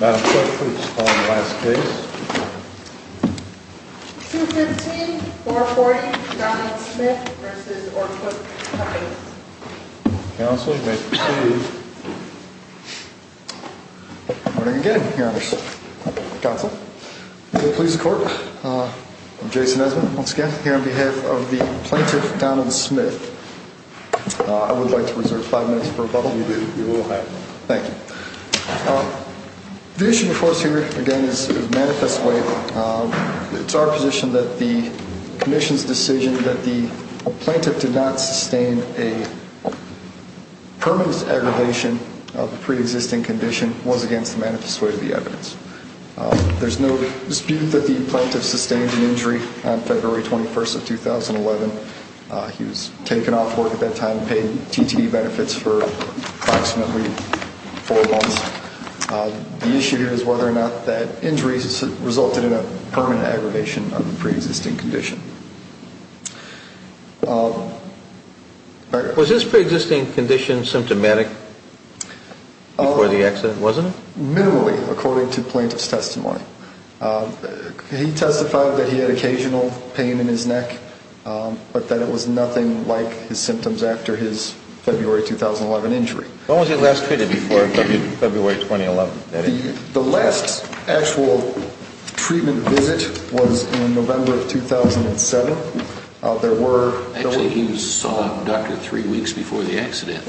Madam Clerk, please call the last case. 215-440 Donald Smith v. Orquist Co. Counsel, you may proceed. Good morning again, Your Honors. Counsel, will you please the Court? I'm Jason Esmond, once again, here on behalf of the plaintiff, Donald Smith. I would like to reserve five minutes for rebuttal. Thank you. The issue before us here, again, is manifest way. It's our position that the Commission's decision that the plaintiff did not sustain a permanent aggravation of a pre-existing condition was against the manifest way of the evidence. There's no dispute that the plaintiff sustained an injury on February 21st of 2011. He was taken off work at that time, paid TTE benefits for approximately four months. The issue here is whether or not that injury resulted in a permanent aggravation of the pre-existing condition. Was his pre-existing condition symptomatic before the accident, wasn't it? Minimally, according to the plaintiff's testimony. He testified that he had occasional pain in his neck, but that it was nothing like his symptoms after his February 2011 injury. When was he last treated before February 2011? The last actual treatment visit was in November of 2007. Actually, he saw a doctor three weeks before the accident.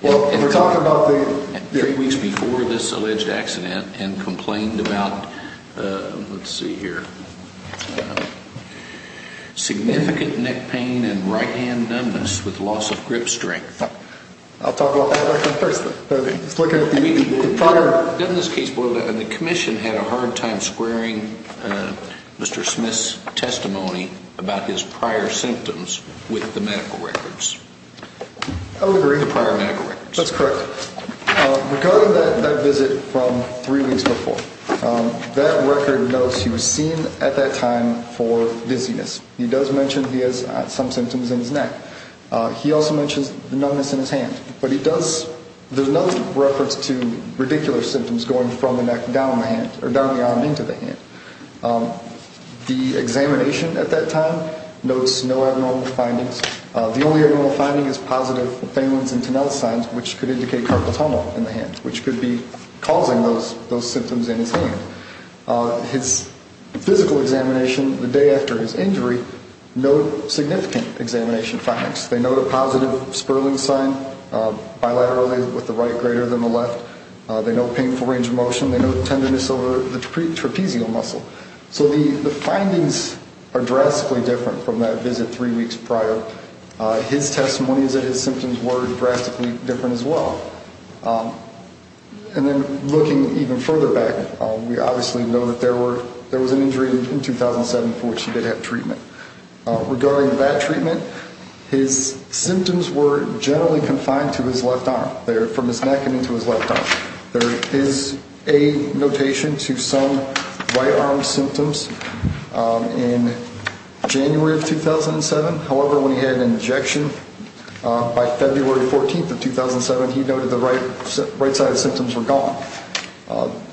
Well, we're talking about the... Three weeks before this alleged accident and complained about, let's see here, significant neck pain and right hand numbness with loss of grip strength. I'll talk about that record first. In this case, the commission had a hard time squaring Mr. Smith's testimony about his prior symptoms with the medical records. I would agree. The prior medical records. That's correct. Regarding that visit from three weeks before, that record notes he was seen at that time for dizziness. He does mention he has some symptoms in his neck. He also mentions the numbness in his hand. But he does... There's no reference to radicular symptoms going from the neck down the arm into the hand. The examination at that time notes no abnormal findings. The only abnormal finding is positive pain wounds and tunnel signs, which could indicate carpal tunnel in the hand, which could be causing those symptoms in his hand. His physical examination the day after his injury note significant examination facts. They note a positive spurling sign bilaterally with the right greater than the left. They note painful range of motion. They note tenderness over the trapezial muscle. So the findings are drastically different from that visit three weeks prior. His testimonies that his symptoms were drastically different as well. And then looking even further back, we obviously know that there was an injury in 2007 for which he did have treatment. Regarding that treatment, his symptoms were generally confined to his left arm, from his neck and into his left arm. There is a notation to some right arm symptoms in January of 2007. However, when he had an injection by February 14th of 2007, he noted the right side symptoms were gone.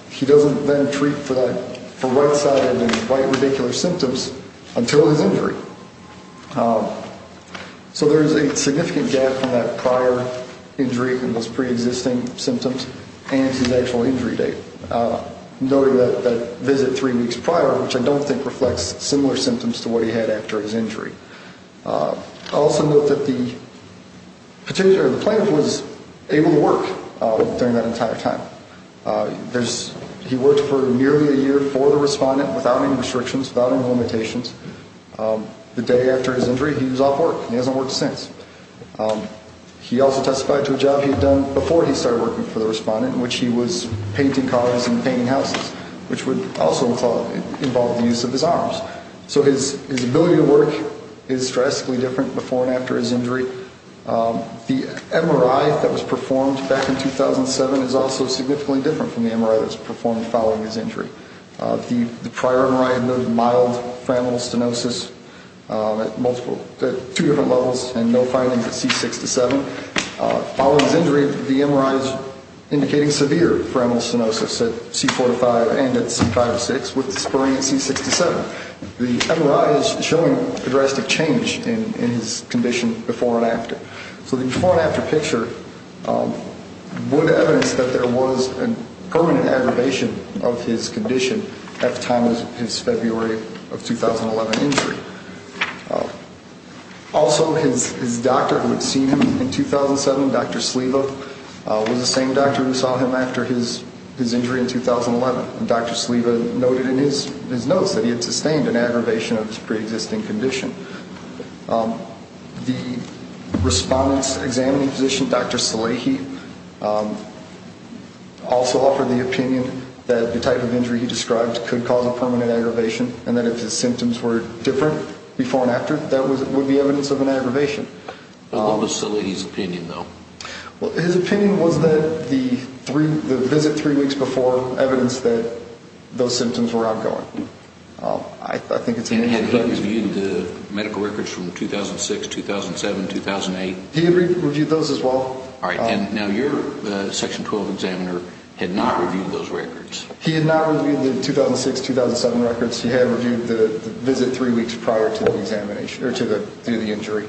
He doesn't then treat for right-sided and right radicular symptoms until his injury. So there is a significant gap in that prior injury and those preexisting symptoms and his actual injury date. Noting that visit three weeks prior, which I don't think reflects similar symptoms to what he had after his injury. Also note that the plant was able to work during that entire time. He worked for nearly a year for the respondent without any restrictions, without any limitations. The day after his injury, he was off work. He hasn't worked since. He also testified to a job he had done before he started working for the respondent, in which he was painting cars and painting houses, which would also involve the use of his arms. So his ability to work is drastically different before and after his injury. The MRI that was performed back in 2007 is also significantly different from the MRI that was performed following his injury. The prior MRI noted mild pheromonal stenosis at two different levels and no findings at C6-7. Following his injury, the MRI is indicating severe pheromonal stenosis at C4-5 and at C5-6, with the spurring at C6-7. The MRI is showing drastic change in his condition before and after. So the before and after picture would evidence that there was a permanent aggravation of his condition at the time of his February of 2011 injury. Also, his doctor who had seen him in 2007, Dr. Sliva, was the same doctor who saw him after his injury in 2011. Dr. Sliva noted in his notes that he had sustained an aggravation of his preexisting condition. The respondent's examining physician, Dr. Salehi, also offered the opinion that the type of injury he described could cause a permanent aggravation, and that if his symptoms were different before and after, that would be evidence of an aggravation. What was Salehi's opinion, though? Well, his opinion was that the visit three weeks before evidenced that those symptoms were outgoing. And had he reviewed the medical records from 2006, 2007, 2008? He had reviewed those as well. All right, and now your Section 12 examiner had not reviewed those records. He had not reviewed the 2006, 2007 records. He had reviewed the visit three weeks prior to the injury.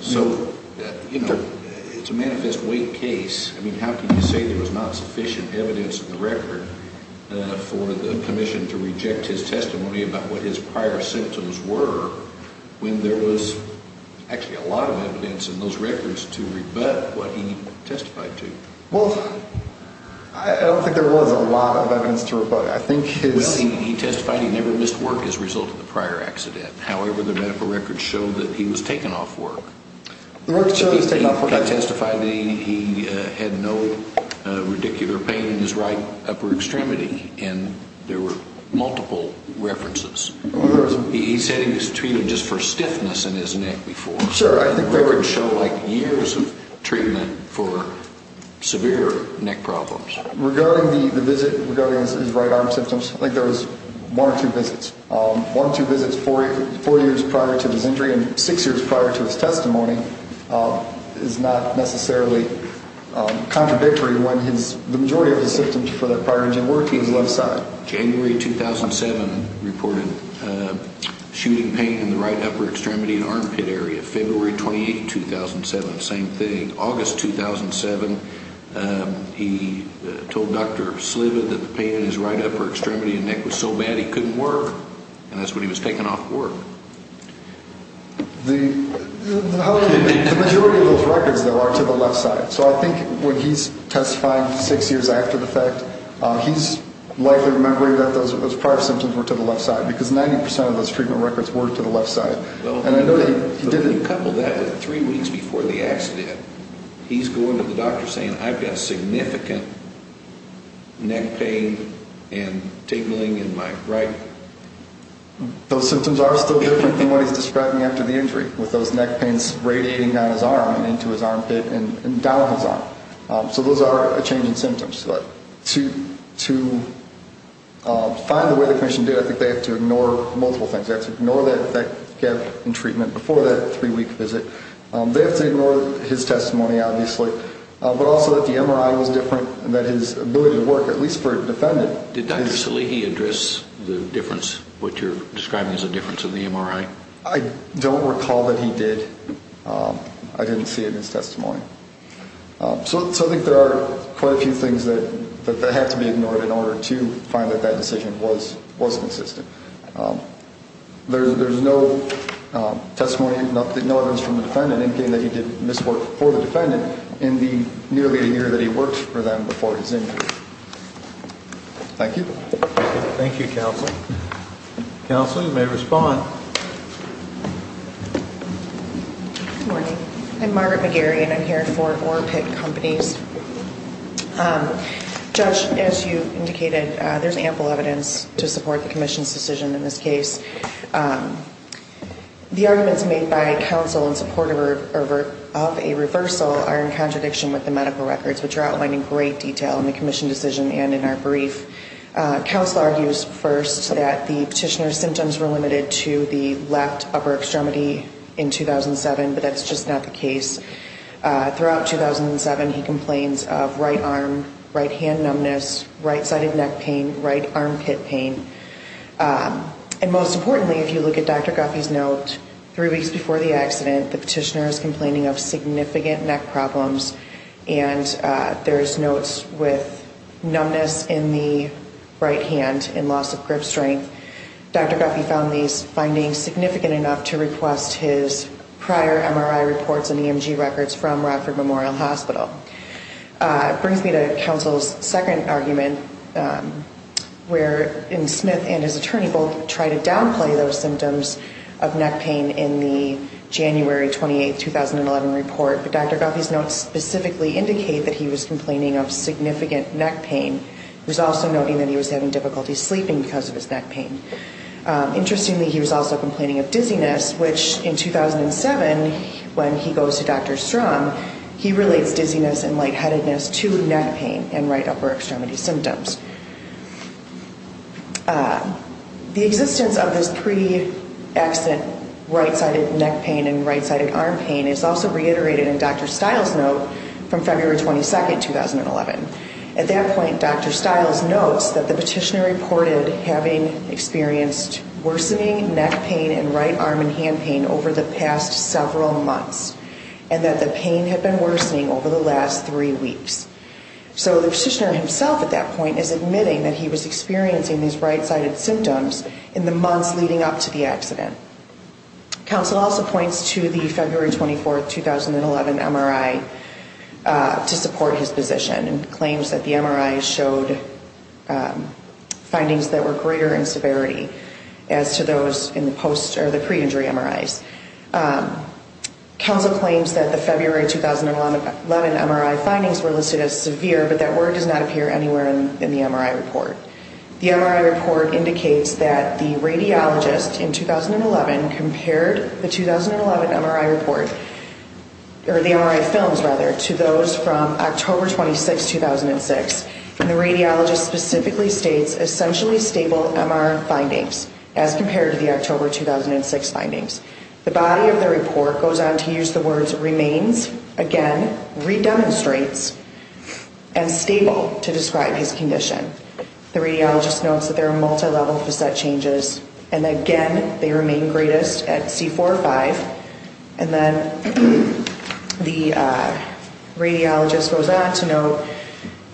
So, you know, it's a manifest weight case. I mean, how can you say there was not sufficient evidence in the record for the commission to reject his testimony about what his prior symptoms were when there was actually a lot of evidence in those records to rebut what he testified to? Well, I don't think there was a lot of evidence to rebut. Well, he testified he never missed work as a result of the prior accident. However, the medical records show that he was taken off work. The medical records show he was taken off work. He testified that he had no radicular pain in his right upper extremity, and there were multiple references. He said he was treated just for stiffness in his neck before. The records show, like, years of treatment for severe neck problems. Regarding the visit, regarding his right arm symptoms, I think there was one or two visits, one or two visits four years prior to his injury and six years prior to his testimony. It's not necessarily contradictory when the majority of the symptoms for that prior injury were to his left side. January 2007 reported shooting pain in the right upper extremity and armpit area. February 28, 2007, same thing. August 2007, he told Dr. Sliva that the pain in his right upper extremity and neck was so bad he couldn't work, and that's when he was taken off work. The majority of those records, though, are to the left side. So I think when he's testifying six years after the fact, he's likely remembering that those prior symptoms were to the left side because 90 percent of those treatment records were to the left side. When you couple that with three weeks before the accident, he's going to the doctor saying, I've got significant neck pain and tingling in my right. Those symptoms are still different than what he's describing after the injury with those neck pains radiating down his arm and into his armpit and down his arm. So those are a change in symptoms. But to find the way the commission did, I think they have to ignore multiple things. They have to ignore that gap in treatment before that three-week visit. They have to ignore his testimony, obviously, but also that the MRI was different and that his ability to work, at least for a defendant. Did Dr. Salehi address the difference, what you're describing as a difference in the MRI? I don't recall that he did. I didn't see it in his testimony. So I think there are quite a few things that have to be ignored in order to find that that decision was consistent. There's no testimony, no evidence from the defendant indicating that he did miswork for the defendant in the nearly a year that he worked for them before his injury. Thank you. Thank you, counsel. Counsel, you may respond. Good morning. I'm Margaret McGarry, and I'm here for Orpitt Companies. Judge, as you indicated, there's ample evidence to support the commission's decision in this case. The arguments made by counsel in support of a reversal are in contradiction with the medical records, which are outlined in great detail in the commission decision and in our brief. Counsel argues first that the petitioner's symptoms were limited to the left upper extremity in 2007, but that's just not the case. Throughout 2007, he complains of right arm, right hand numbness, right-sided neck pain, right armpit pain. And most importantly, if you look at Dr. Guffey's note, three weeks before the accident, the petitioner is complaining of significant neck problems, and there's notes with numbness in the right hand and loss of grip strength. Dr. Guffey found these findings significant enough to request his prior MRI reports and EMG records from Radford Memorial Hospital. It brings me to counsel's second argument, where Smith and his attorney both try to downplay those symptoms of neck pain in the January 28, 2011 report, but Dr. Guffey's notes specifically indicate that he was complaining of significant neck pain. He was also noting that he was having difficulty sleeping because of his neck pain. Interestingly, he was also complaining of dizziness, which in 2007, when he goes to Dr. Strom, he relates dizziness and lightheadedness to neck pain and right upper extremity symptoms. The existence of this pre-accident right-sided neck pain and right-sided arm pain is also reiterated in Dr. Stiles' note from February 22, 2011. At that point, Dr. Stiles notes that the petitioner reported having experienced worsening neck pain and right arm and hand pain over the past several months, and that the pain had been worsening over the last three weeks. So the petitioner himself at that point is admitting that he was experiencing these right-sided symptoms in the months leading up to the accident. Counsel also points to the February 24, 2011 MRI to support his position and claims that the MRI showed findings that were greater in severity as to those in the pre-injury MRIs. Counsel claims that the February 2011 MRI findings were listed as severe, but that word does not appear anywhere in the MRI report. The MRI report indicates that the radiologist in 2011 compared the 2011 MRI report, or the MRI films rather, to those from October 26, 2006, and the radiologist specifically states essentially stable MRI findings as compared to the October 2006 findings. The body of the report goes on to use the words remains, again, redemonstrates, and stable to describe his condition. The radiologist notes that there are multilevel facet changes, and again, they remain greatest at C4-5, and then the radiologist goes on to note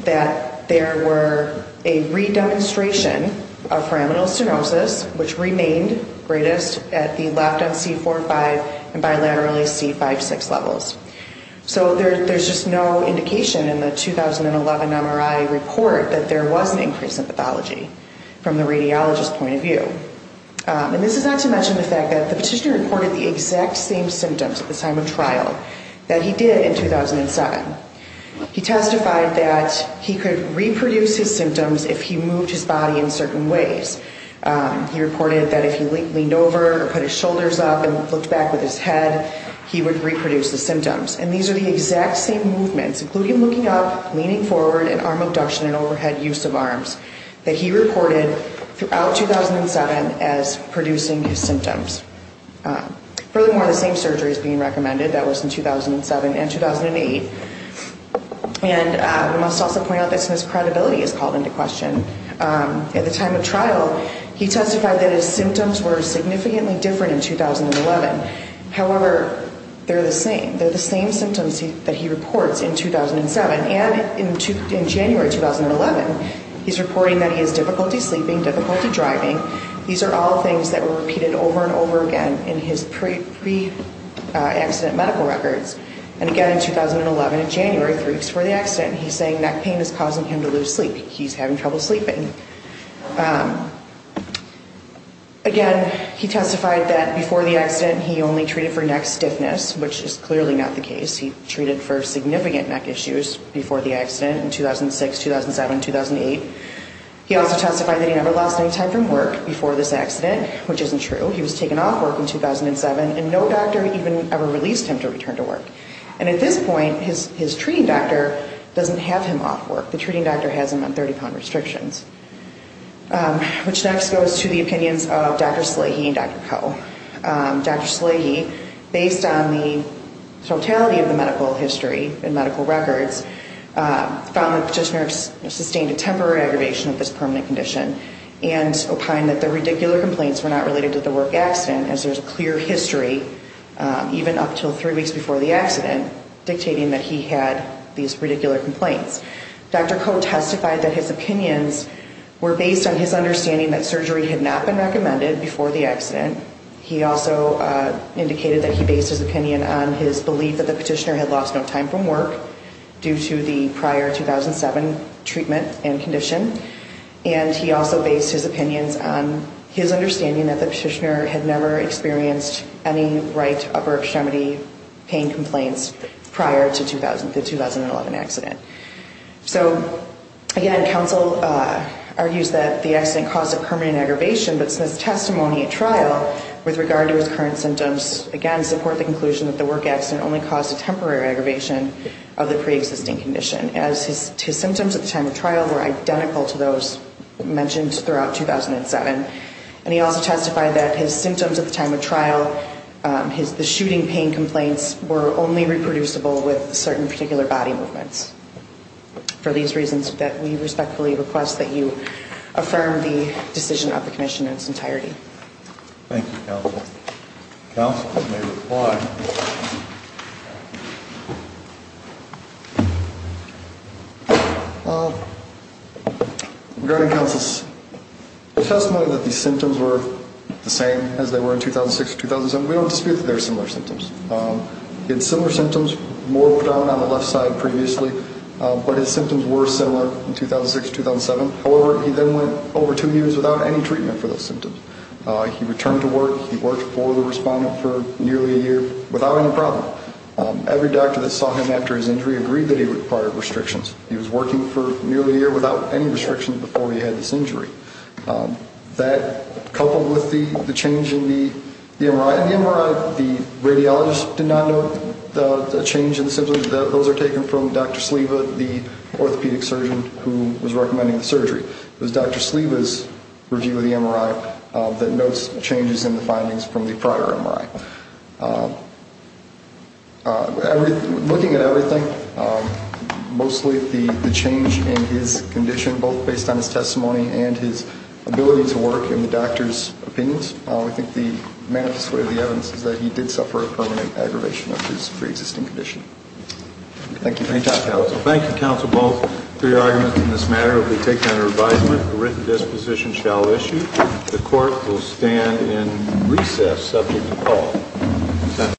that there were a redemonstration of pyramidal stenosis, which remained greatest at the left on C4-5 and bilaterally C5-6 levels. So there's just no indication in the 2011 MRI report that there was an increase in pathology from the radiologist's point of view. And this is not to mention the fact that the petitioner reported the exact same symptoms at the time of trial that he did in 2007. He testified that he could reproduce his symptoms if he moved his body in certain ways. He reported that if he leaned over or put his shoulders up and looked back with his head, he would reproduce the symptoms. And these are the exact same movements, including looking up, leaning forward, and arm abduction and overhead use of arms, that he reported throughout 2007 as producing his symptoms. Really more of the same surgery is being recommended. That was in 2007 and 2008. And we must also point out that Smith's credibility is called into question. At the time of trial, he testified that his symptoms were significantly different in 2011. However, they're the same. They're the same symptoms that he reports in 2007. And in January 2011, he's reporting that he has difficulty sleeping, difficulty driving. These are all things that were repeated over and over again in his pre-accident medical records. And again in 2011, in January, three weeks before the accident, he's saying neck pain is causing him to lose sleep. He's having trouble sleeping. Again, he testified that before the accident, he only treated for neck stiffness, which is clearly not the case. He treated for significant neck issues before the accident in 2006, 2007, 2008. He also testified that he never lost any time from work before this accident, which isn't true. He was taken off work in 2007, and no doctor even ever released him to return to work. And at this point, his treating doctor doesn't have him off work. The treating doctor has him on 30-pound restrictions. Which next goes to the opinions of Dr. Slahey and Dr. Coe. Dr. Slahey, based on the totality of the medical history and medical records, found that Petitioner sustained a temporary aggravation of this permanent condition and opined that the radicular complaints were not related to the work accident, as there's a clear history, even up until three weeks before the accident, dictating that he had these radicular complaints. Dr. Coe testified that his opinions were based on his understanding that surgery had not been recommended before the accident. He also indicated that he based his opinion on his belief that the Petitioner had lost no time from work due to the prior 2007 treatment and condition. And he also based his opinions on his understanding that the Petitioner had never experienced any right upper extremity pain complaints prior to the 2011 accident. So again, counsel argues that the accident caused a permanent aggravation, but Smith's testimony at trial with regard to his current symptoms, again, support the conclusion that the work accident only caused a temporary aggravation of the pre-existing condition, as his symptoms at the time of trial were identical to those mentioned throughout 2007. And he also testified that his symptoms at the time of trial, the shooting pain complaints were only reproducible with certain particular body movements. For these reasons, we respectfully request that you affirm the decision of the commission in its entirety. Thank you, counsel. Counsel may reply. Regarding counsel's testimony that the symptoms were the same as they were in 2006-2007, we don't dispute that they were similar symptoms. He had similar symptoms, more predominant on the left side previously, but his symptoms were similar in 2006-2007. However, he then went over two years without any treatment for those symptoms. He returned to work. He worked for the respondent for nearly a year without any problem. Every doctor that saw him after his injury agreed that he required restrictions. He was working for nearly a year without any restrictions before he had this injury. That coupled with the change in the MRI. In the MRI, the radiologist did not note the change in the symptoms. Those are taken from Dr. Sliva, the orthopedic surgeon who was recommending the surgery. It was Dr. Sliva's review of the MRI that notes changes in the findings from the prior MRI. Looking at everything, mostly the change in his condition, both based on his testimony and his ability to work in the doctor's opinions, I think the manifest way of the evidence is that he did suffer a permanent aggravation of his preexisting condition. Thank you. Thank you, counsel. Thank you, counsel, both, for your arguments in this matter. It will be taken under advisement. A written disposition shall issue. The court will stand in recess subject to call.